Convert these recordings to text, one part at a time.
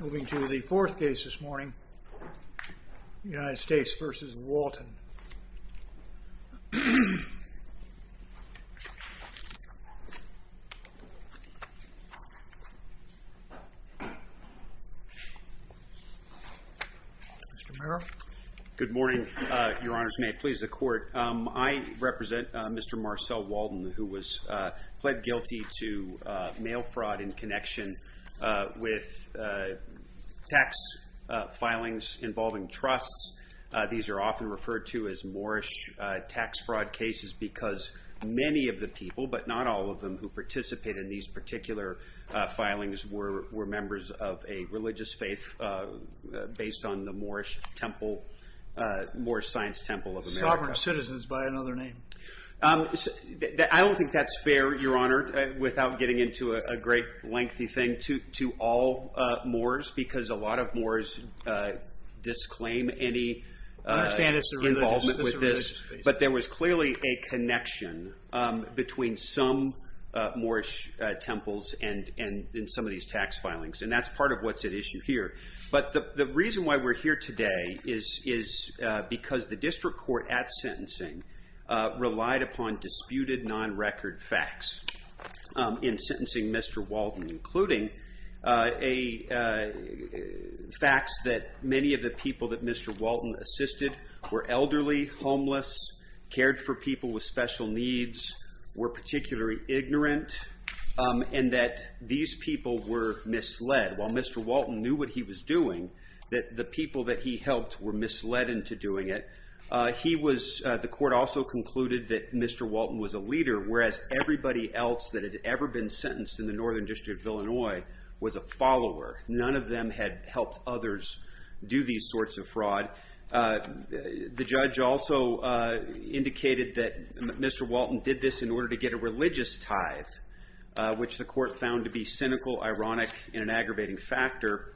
Moving to the fourth case this morning, United States v. Walton. Mr. Mayor. Good morning, Your Honors. May it please the Court. I represent Mr. Marcel Walton, who was pled guilty to mail fraud in connection with tax filings involving trusts. These are often referred to as Moorish tax fraud cases because many of the people, but not all of them, who participated in these particular filings were members of a religious faith based on the Moorish Temple, Moorish Science Temple of America. Sovereign citizens, by another name. I don't think that's fair, Your Honor, without getting into a great lengthy thing to all Moors because a lot of Moors disclaim any involvement with this. But there was clearly a connection between some Moorish temples and some of these tax filings. And that's part of what's at issue here. But the reason why we're here today is because the district court at sentencing relied upon disputed non-record facts in sentencing Mr. Walton, including facts that many of the people that Mr. Walton assisted were elderly, homeless, cared for people with special needs, were particularly ignorant, and that these people were misled. While Mr. Walton knew what he was doing, the people that he helped were misled into doing it. The court also concluded that Mr. Walton was a leader, whereas everybody else that had ever been sentenced in the Northern District of Illinois was a follower. None of them had helped others do these sorts of fraud. The judge also indicated that Mr. Walton did this in order to get a religious tithe, which the court found to be cynical, ironic, and an aggravating factor,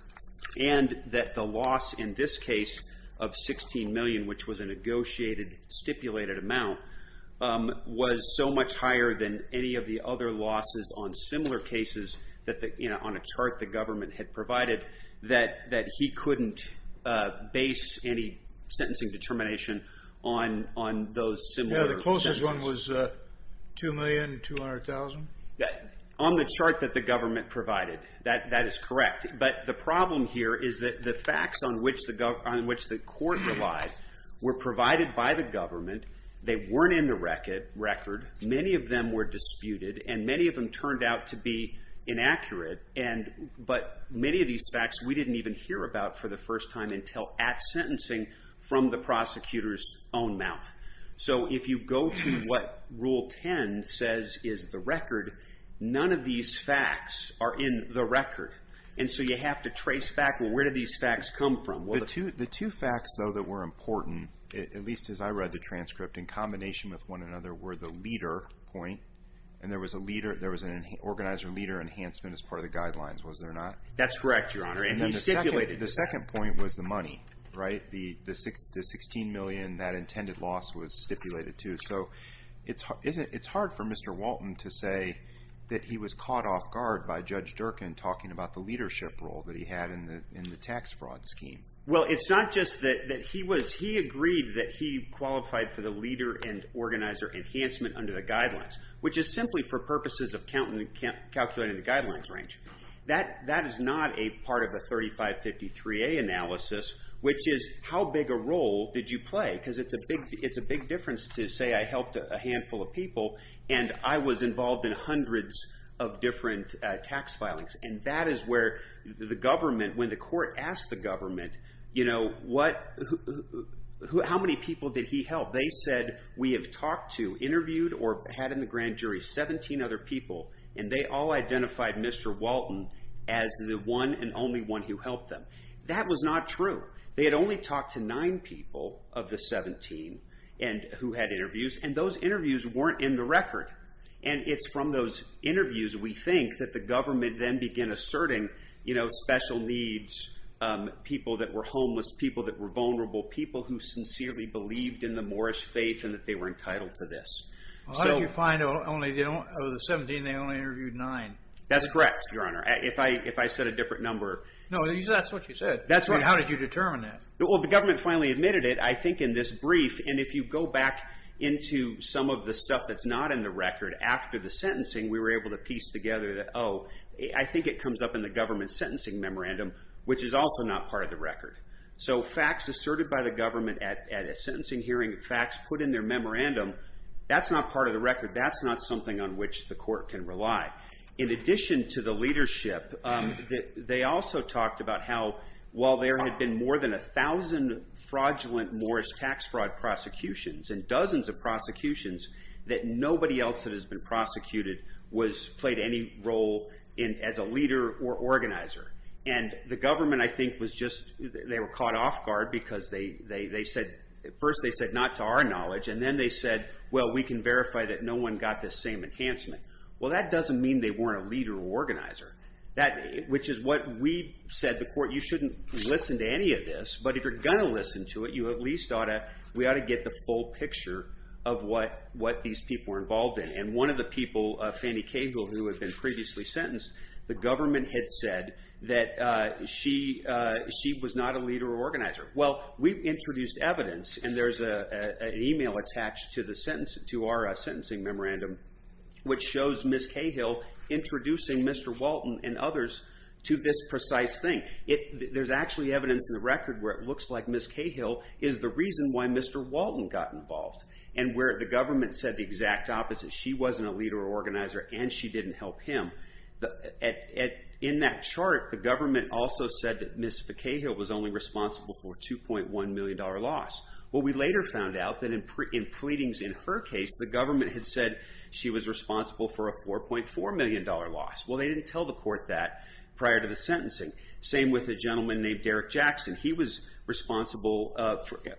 and that the loss in this case of $16 million, which was a negotiated, stipulated amount, was so much higher than any of the other losses on similar cases on a chart the government had provided that he couldn't base any sentencing determination on those similar sentences. The sum was $2,200,000? On the chart that the government provided, that is correct. But the problem here is that the facts on which the court relied were provided by the government. They weren't in the record. Many of them were disputed, and many of them turned out to be inaccurate. But many of these facts we didn't even hear about for the first time until at sentencing from the prosecutor's own mouth. So if you go to what Rule 10 says is the record, none of these facts are in the record. And so you have to trace back, well, where did these facts come from? The two facts, though, that were important, at least as I read the transcript, in combination with one another were the leader point, and there was an organizer-leader enhancement as part of the guidelines, was there not? That's correct, Your Honor, and he stipulated that. The second point was the money, right? The $16 million that intended loss was stipulated to. So it's hard for Mr. Walton to say that he was caught off guard by Judge Durkin talking about the leadership role that he had in the tax fraud scheme. Well, it's not just that he agreed that he qualified for the leader and organizer enhancement under the guidelines, which is simply for purposes of calculating the guidelines range. That is not a part of a 3553A analysis, which is how big a role did you play? Because it's a big difference to say I helped a handful of people and I was involved in hundreds of different tax filings. And that is where the government, when the court asked the government, you know, how many people did he help? They said we have talked to, interviewed, or had in the grand jury 17 other people, and they all identified Mr. Walton as the one and only one who helped them. That was not true. They had only talked to nine people of the 17 who had interviews, and those interviews weren't in the record. And it's from those interviews, we think, that the government then began asserting, you know, special needs, people that were homeless, people that were vulnerable, people who sincerely believed in the Moorish faith and that they were entitled to this. Well, how did you find out of the 17 they only interviewed nine? That's correct, Your Honor, if I said a different number. No, that's what you said. That's right. How did you determine that? Well, the government finally admitted it, I think, in this brief. And if you go back into some of the stuff that's not in the record, after the sentencing we were able to piece together that, oh, I think it comes up in the government's sentencing memorandum, which is also not part of the record. So facts asserted by the government at a sentencing hearing, facts put in their memorandum, that's not part of the record. That's not something on which the court can rely. In addition to the leadership, they also talked about how, while there had been more than 1,000 fraudulent Moorish tax fraud prosecutions and dozens of prosecutions, that nobody else that has been prosecuted was, played any role as a leader or organizer. And the government, I think, was just, they were caught off guard because they said, at first they said, not to our knowledge, and then they said, well, we can verify that no one got this same enhancement. Well, that doesn't mean they weren't a leader or organizer, which is what we said to the court, you shouldn't listen to any of this, but if you're going to listen to it, you at least ought to, we ought to get the full picture of what these people were involved in. And one of the people, Fannie Cable, who had been previously sentenced, the government had said that she was not a leader or organizer. Well, we introduced evidence, and there's an email attached to our sentencing memorandum which shows Ms. Cahill introducing Mr. Walton and others to this precise thing. There's actually evidence in the record where it looks like Ms. Cahill is the reason why Mr. Walton got involved, and where the government said the exact opposite, she wasn't a leader or organizer and she didn't help him. In that chart, the government also said that Ms. Cahill was only responsible for a $2.1 million loss. Well, we later found out that in pleadings in her case, the government had said she was responsible for a $4.4 million loss. Well, they didn't tell the court that prior to the sentencing. Same with a gentleman named Derrick Jackson. He was responsible,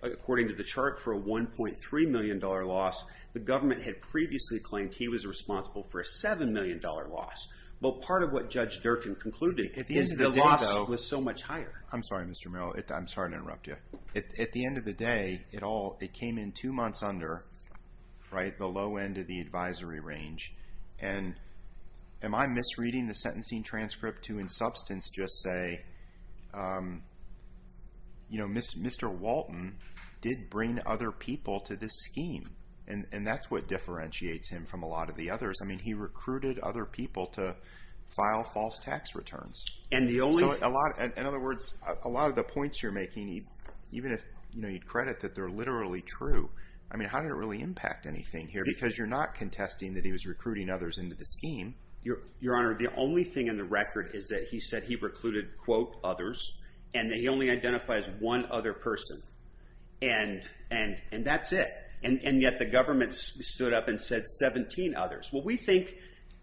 according to the chart, for a $1.3 million loss. The government had previously claimed he was responsible for a $7 million loss. Well, part of what Judge Durkin concluded is the loss was so much higher. I'm sorry, Mr. Merrill. I'm sorry to interrupt you. At the end of the day, it came in two months under, right, the low end of the advisory range. And am I misreading the sentencing transcript to, in substance, just say, you know, Mr. Walton did bring other people to this scheme. And that's what differentiates him from a lot of the others. I mean, he recruited other people to file false tax returns. In other words, a lot of the points you're making, even if you credit that they're literally true, I mean, how did it really impact anything here? Because you're not contesting that he was recruiting others into the scheme. Your Honor, the only thing in the record is that he said he recruited, quote, others, and that he only identifies one other person. And that's it. And yet the government stood up and said 17 others. Well, we think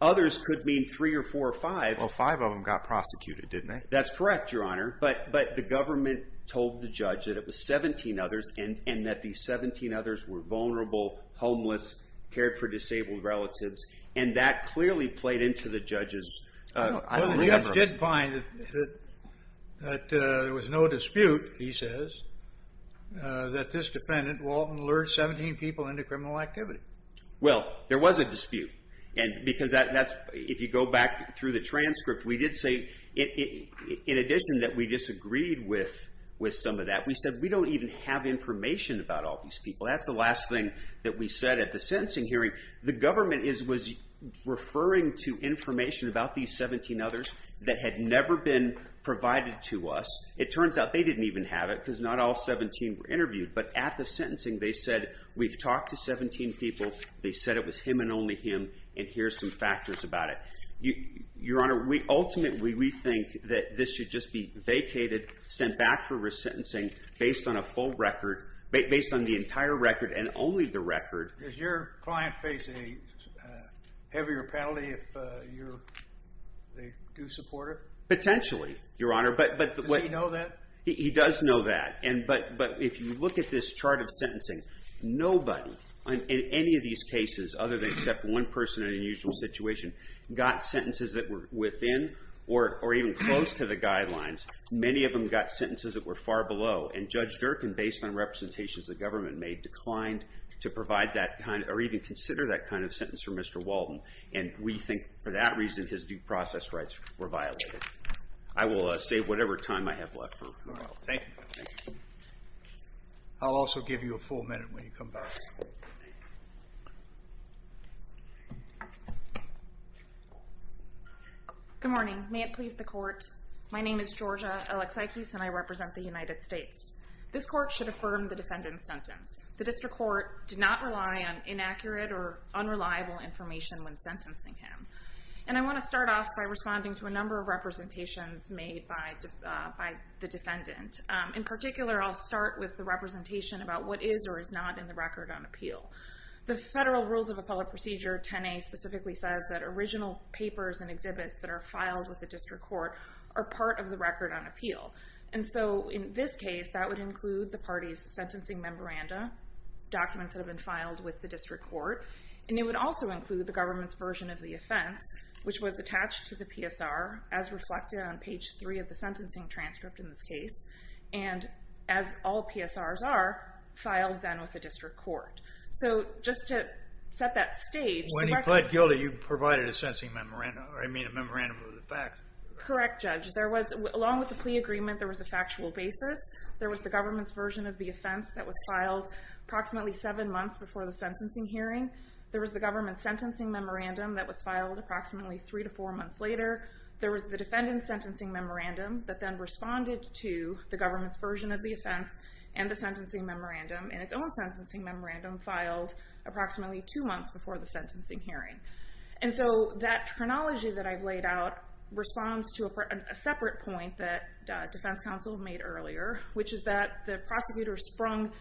others could mean three or four or five. Well, five of them got prosecuted, didn't they? That's correct, Your Honor. But the government told the judge that it was 17 others, and that these 17 others were vulnerable, homeless, cared for disabled relatives. And that clearly played into the judge's, I believe. Well, the judge did find that there was no dispute, he says, that this defendant, Walton, lured 17 people into criminal activity. Well, there was a dispute. Because that's, if you go back through the transcript, we did say, in addition that we disagreed with some of that, we said we don't even have information about all these people. That's the last thing that we said at the sentencing hearing. The government was referring to information about these 17 others that had never been provided to us. It turns out they didn't even have it, because not all 17 were interviewed. But at the sentencing, they said, we've talked to 17 people. They said it was him and only him, and here's some factors about it. Your Honor, ultimately, we think that this should just be vacated, sent back for resentencing based on a full record, based on the entire record and only the record. Does your client face a heavier penalty if they do support it? Potentially, Your Honor. Does he know that? He does know that. But if you look at this chart of sentencing, nobody in any of these cases, other than except one person in an unusual situation, got sentences that were within or even close to the guidelines. Many of them got sentences that were far below. And Judge Durkin, based on representations the government made, declined to provide that kind or even consider that kind of sentence for Mr. Walden. And we think, for that reason, his due process rights were violated. I will save whatever time I have left for tomorrow. Thank you. I'll also give you a full minute when you come back. Good morning. May it please the Court. My name is Georgia Alexakis, and I represent the United States. This Court should affirm the defendant's sentence. The district court did not rely on inaccurate or unreliable information when sentencing him. And I want to start off by responding to a number of representations made by the defendant. In particular, I'll start with the representation about what is or is not in the record on appeal. The Federal Rules of Appellate Procedure, 10A, specifically says that original papers and exhibits that are filed with the district court are part of the record on appeal. And so in this case, that would include the party's sentencing memoranda, documents that have been filed with the district court, and it would also include the government's version of the offense, which was attached to the PSR, as reflected on page 3 of the sentencing transcript in this case, and as all PSRs are, filed then with the district court. So just to set that stage. When he pled guilty, you provided a sentencing memoranda. I mean a memorandum of the fact. Correct, Judge. Along with the plea agreement, there was factual basis. There was the government's version of the offense that was filed approximately 7 months before the sentencing hearing. There was the government's sentencing memoranda that was filed approximately 3 to 4 months later. There was the defendant's sentencing memoranda that then responded to the government's version of the offense and the sentencing memoranda in its own sentencing memoranda filed approximately 2 months before the sentencing hearing. And so that chronology that I've laid out responds to a separate point that defense counsel made earlier, which is that the prosecutor sprung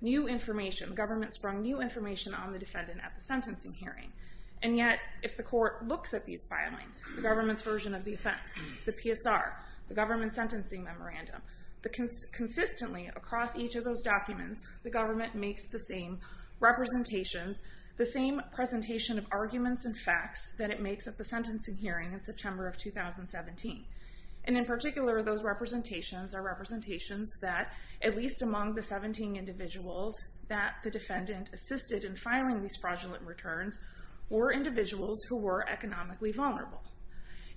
new information, the government sprung new information, on the defendant at the sentencing hearing. And yet, if the court looks at these filings, the government's version of the offense, the PSR, the government's sentencing memoranda, consistently across each of those documents, the government makes the same representations, the same presentation of arguments and facts that it makes at the sentencing hearing in September of 2017. And in particular, those representations are representations that at least among the 17 individuals that the defendant assisted in filing these fraudulent returns were individuals who were economically vulnerable.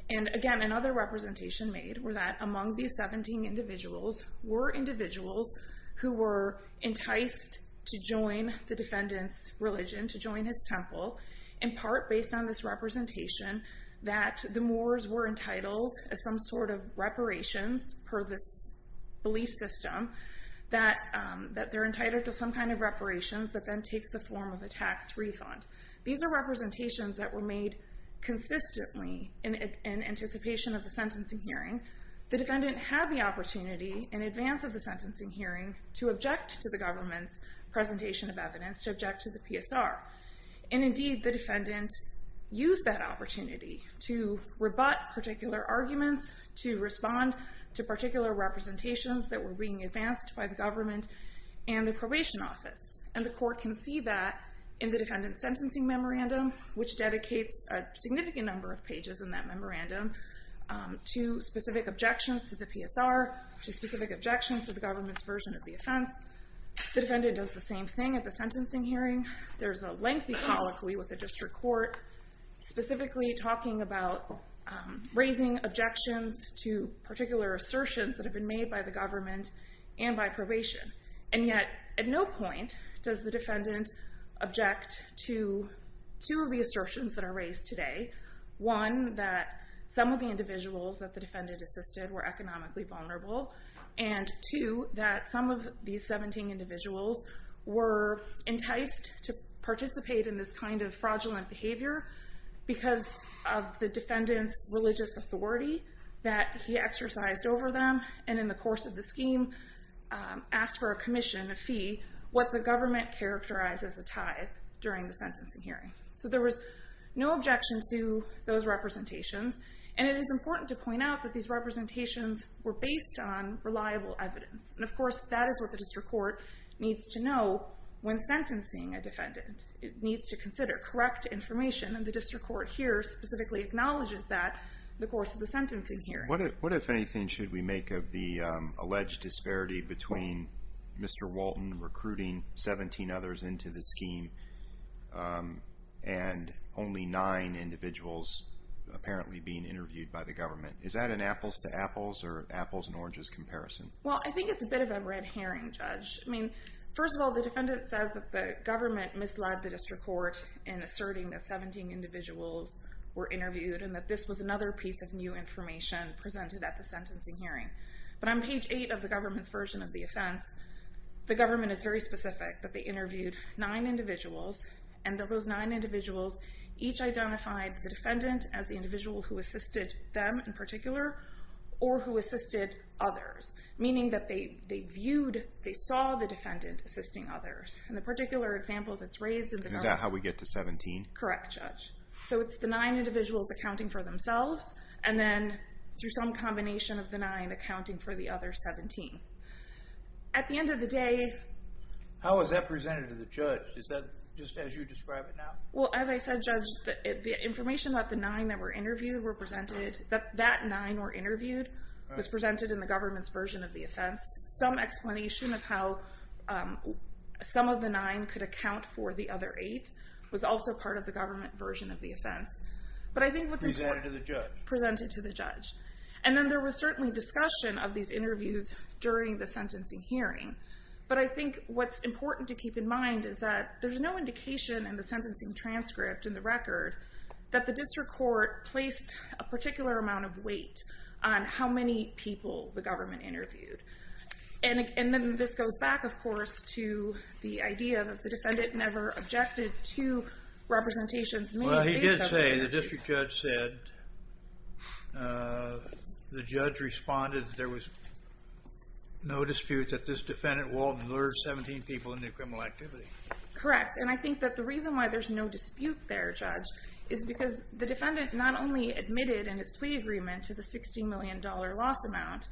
And again, another representation made were that among these 17 individuals were individuals who were enticed to join the defendant's religion, to join his temple, in part based on this representation that the moors were entitled as some sort of reparations per this belief system, that they're entitled to some kind of reparations that then takes the form of a tax refund. These are representations that were made consistently in anticipation of the sentencing hearing. The defendant had the opportunity in advance of the sentencing hearing to object to the government's presentation of evidence, to object to the PSR. And indeed, the defendant used that opportunity to rebut particular arguments, to respond to particular representations that were being advanced by the government and the probation office. And the court can see that in the defendant's sentencing memorandum, which dedicates a significant number of pages in that memorandum to specific objections to the PSR, to specific objections to the government's version of the offense. The defendant does the same thing at the sentencing hearing. There's a lengthy colloquy with the district court, specifically talking about raising objections to particular assertions that have been made by the government and by probation. And yet, at no point does the defendant object to two of the assertions that are raised today. One, that some of the individuals that the defendant assisted were economically vulnerable. And two, that some of these 17 individuals were enticed to participate in this kind of fraudulent behavior because of the defendant's religious authority that he exercised over them. And in the course of the scheme, asked for a commission, a fee, what the government characterized as a tithe during the sentencing hearing. So there was no objection to those representations. And it is important to point out that these representations were based on reliable evidence. And of course, that is what the district court needs to know when sentencing a defendant. It needs to consider correct information, and the district court here specifically acknowledges that in the course of the sentencing hearing. What, if anything, should we make of the alleged disparity between Mr. Walton recruiting 17 others into the scheme and only 9 individuals apparently being interviewed by the government? Is that an apples-to-apples or apples-and-oranges comparison? Well, I think it's a bit of a red herring, Judge. I mean, first of all, the defendant says that the government misled the district court in asserting that 17 individuals were interviewed and that this was another piece of new information presented at the sentencing hearing. But on page 8 of the government's version of the offense, the government is very specific, that they interviewed 9 individuals and that those 9 individuals each identified the defendant as the individual who assisted them in particular or who assisted others, meaning that they viewed, they saw the defendant assisting others. In the particular example that's raised in the government... Is that how we get to 17? Correct, Judge. So it's the 9 individuals accounting for themselves and then, through some combination of the 9, accounting for the other 17. At the end of the day... How is that presented to the judge? Is that just as you describe it now? Well, as I said, Judge, the information about the 9 that were interviewed were presented... That 9 were interviewed was presented in the government's version of the offense. Some explanation of how some of the 9 could account for the other 8 was also part of the government version of the offense. But I think what's important... Presented to the judge. Presented to the judge. And then there was certainly discussion of these interviews during the sentencing hearing. But I think what's important to keep in mind is that there's no indication in the sentencing transcript in the record that the district court placed a particular amount of weight on how many people the government interviewed. And then this goes back, of course, to the idea that the defendant never objected to representations made based on... Well, he did say... The district judge said... The judge responded that there was no dispute that this defendant walled and lured 17 people into criminal activity. Correct, and I think that the reason why there's no dispute there, Judge, is because the defendant not only admitted in his plea agreement to the $16 million loss amount,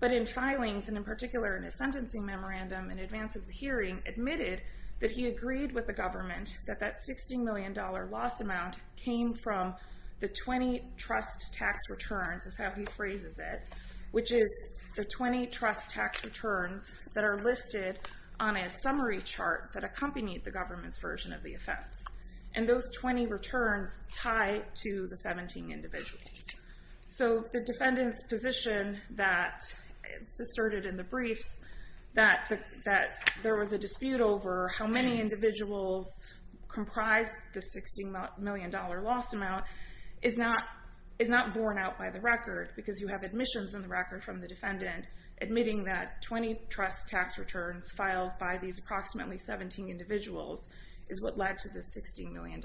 but in filings, and in particular in his sentencing memorandum in advance of the hearing, admitted that he agreed with the government that that $16 million loss amount came from the 20 trust tax returns, is how he phrases it, which is the 20 trust tax returns that are listed on a summary chart that accompanied the government's version of the offense. And those 20 returns tie to the 17 individuals. So the defendant's position that is asserted in the briefs that there was a dispute over how many individuals comprised the $16 million loss amount is not borne out by the record, because you have admissions in the record from the defendant admitting that 20 trust tax returns filed by these approximately 17 individuals is what led to the $16 million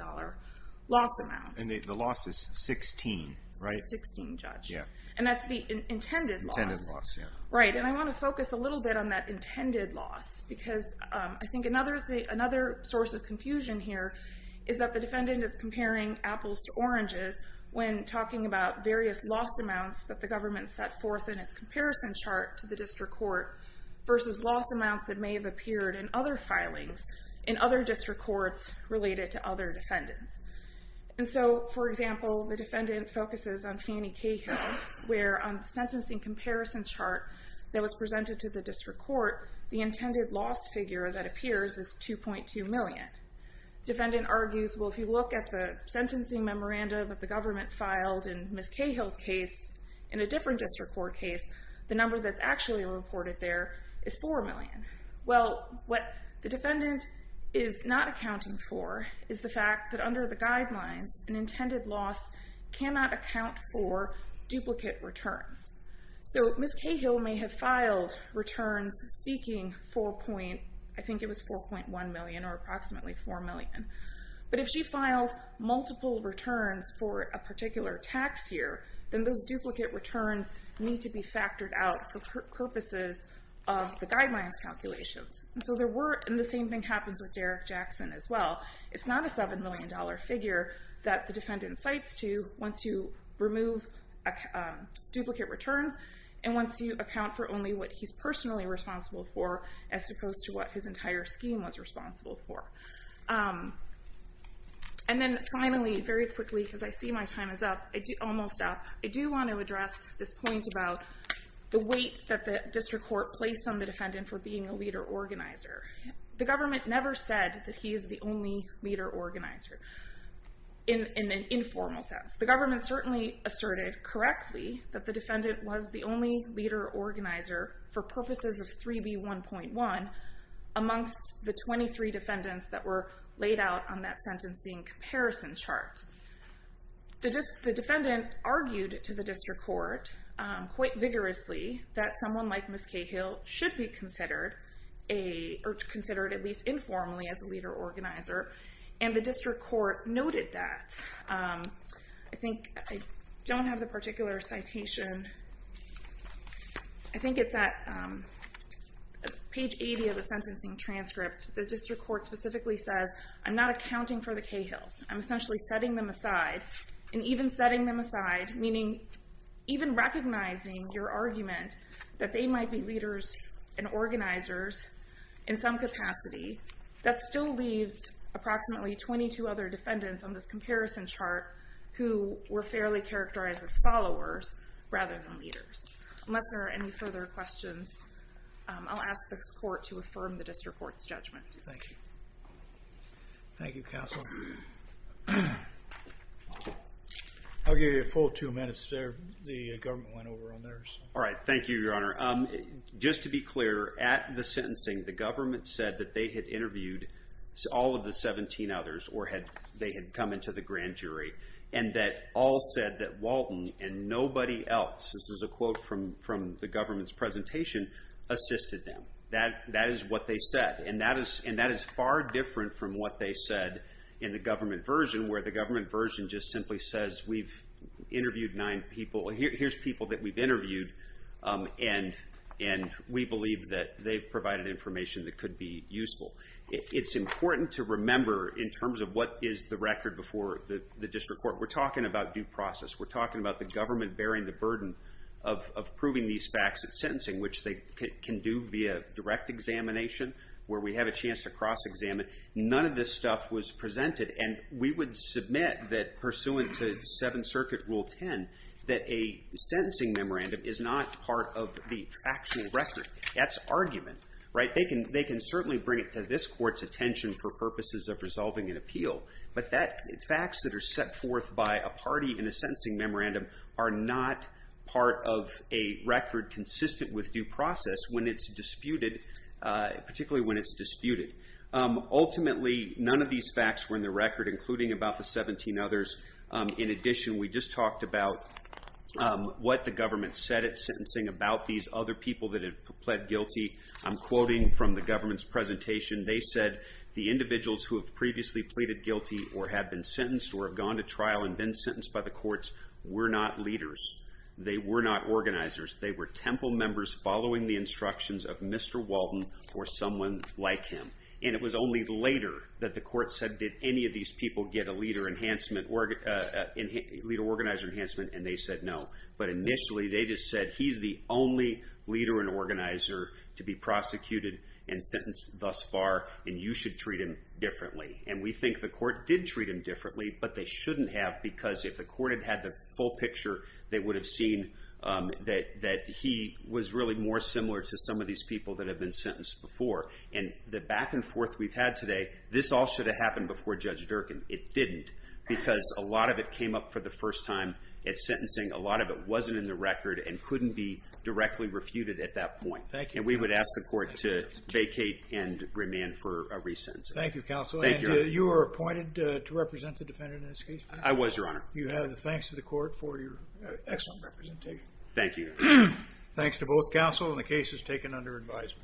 loss amount. And the loss is 16, right? 16, Judge. Yeah. And that's the intended loss. Intended loss, yeah. Right, and I want to focus a little bit on that intended loss, because I think another source of confusion here is that the defendant is comparing apples to oranges when talking about various loss amounts that the government set forth in its comparison chart to the district court versus loss amounts that may have appeared in other filings in other district courts related to other defendants. And so, for example, the defendant focuses on Fannie Cahill, where on the sentencing comparison chart that was presented to the district court, the intended loss figure that appears is $2.2 million. Defendant argues, well, if you look at the sentencing memorandum that the government filed in Ms. Cahill's case in a different district court case, the number that's actually reported there is $4 million. Well, what the defendant is not accounting for is the fact that under the guidelines, an intended loss cannot account for duplicate returns. So Ms. Cahill may have filed returns seeking 4 point... I think it was $4.1 million or approximately $4 million. But if she filed multiple returns for a particular tax year, then those duplicate returns need to be factored out for purposes of the guidelines calculations. And so there were... And the same thing happens with Derek Jackson as well. It's not a $7 million figure that the defendant cites to once you remove duplicate returns and once you account for only what he's personally responsible for as opposed to what his entire scheme was responsible for. And then finally, very quickly, because I see my time is up, almost up, I do want to address this point about the weight that the district court placed on the defendant for being a leader organizer. The government never said that he is the only leader organizer in an informal sense. The government certainly asserted correctly that the defendant was the only leader organizer for purposes of 3B1.1 amongst the 23 defendants that were laid out on that sentencing comparison chart. The defendant argued to the district court quite vigorously that someone like Ms. Cahill should be considered at least informally as a leader organizer, and the district court noted that. I think I don't have the particular citation. I think it's at page 80 of the sentencing transcript. The district court specifically says, I'm not accounting for the Cahills. I'm essentially setting them aside, and even setting them aside meaning even recognizing your argument that they might be leaders and organizers in some capacity, that still leaves approximately 22 other defendants on this comparison chart who were fairly characterized as followers rather than leaders. Unless there are any further questions, I'll ask this court to affirm the district court's judgment. Thank you. Thank you, counsel. I'll give you a full two minutes there. The government went over on theirs. All right, thank you, your honor. Just to be clear, at the sentencing, the government said that they had interviewed all of the 17 others or they had come into the grand jury, and that all said that Walton and nobody else, this is a quote from the government's presentation, assisted them. That is what they said, and that is far different from what they said in the government version where the government version just simply says we've interviewed nine people. Here's people that we've interviewed, and we believe that they've provided information that could be useful. It's important to remember in terms of what is the record before the district court. We're talking about due process. We're talking about the government bearing the burden of proving these facts at sentencing, which they can do via direct examination where we have a chance to cross-examine. None of this stuff was presented, and we would submit that pursuant to Seventh Circuit Rule 10 that a sentencing memorandum is not part of the actual record. That's argument. They can certainly bring it to this court's attention for purposes of resolving an appeal, but facts that are set forth by a party in a sentencing memorandum are not part of a record consistent with due process when it's disputed, particularly when it's disputed. Ultimately, none of these facts were in the record, including about the 17 others. In addition, we just talked about what the government said at sentencing about these other people that have pled guilty. I'm quoting from the government's presentation. They said the individuals who have previously pleaded guilty or have been sentenced or have gone to trial and been sentenced by the courts were not leaders. They were not organizers. They were temple members following the instructions of Mr. Walton or someone like him. And it was only later that the court said, did any of these people get a leader-organizer enhancement, and they said no. But initially they just said he's the only leader and organizer to be prosecuted and sentenced thus far, and you should treat him differently. And we think the court did treat him differently, but they shouldn't have because if the court had had the full picture, they would have seen that he was really more similar to some of these people that have been sentenced before. And the back-and-forth we've had today, this all should have happened before Judge Durkan. It didn't because a lot of it came up for the first time at sentencing. A lot of it wasn't in the record and couldn't be directly refuted at that point. And we would ask the court to vacate and remand for a resentencing. Thank you, counsel. I was, Your Honor. You have the thanks of the court for your excellent representation. Thank you. Thanks to both counsel and the cases taken under advisement.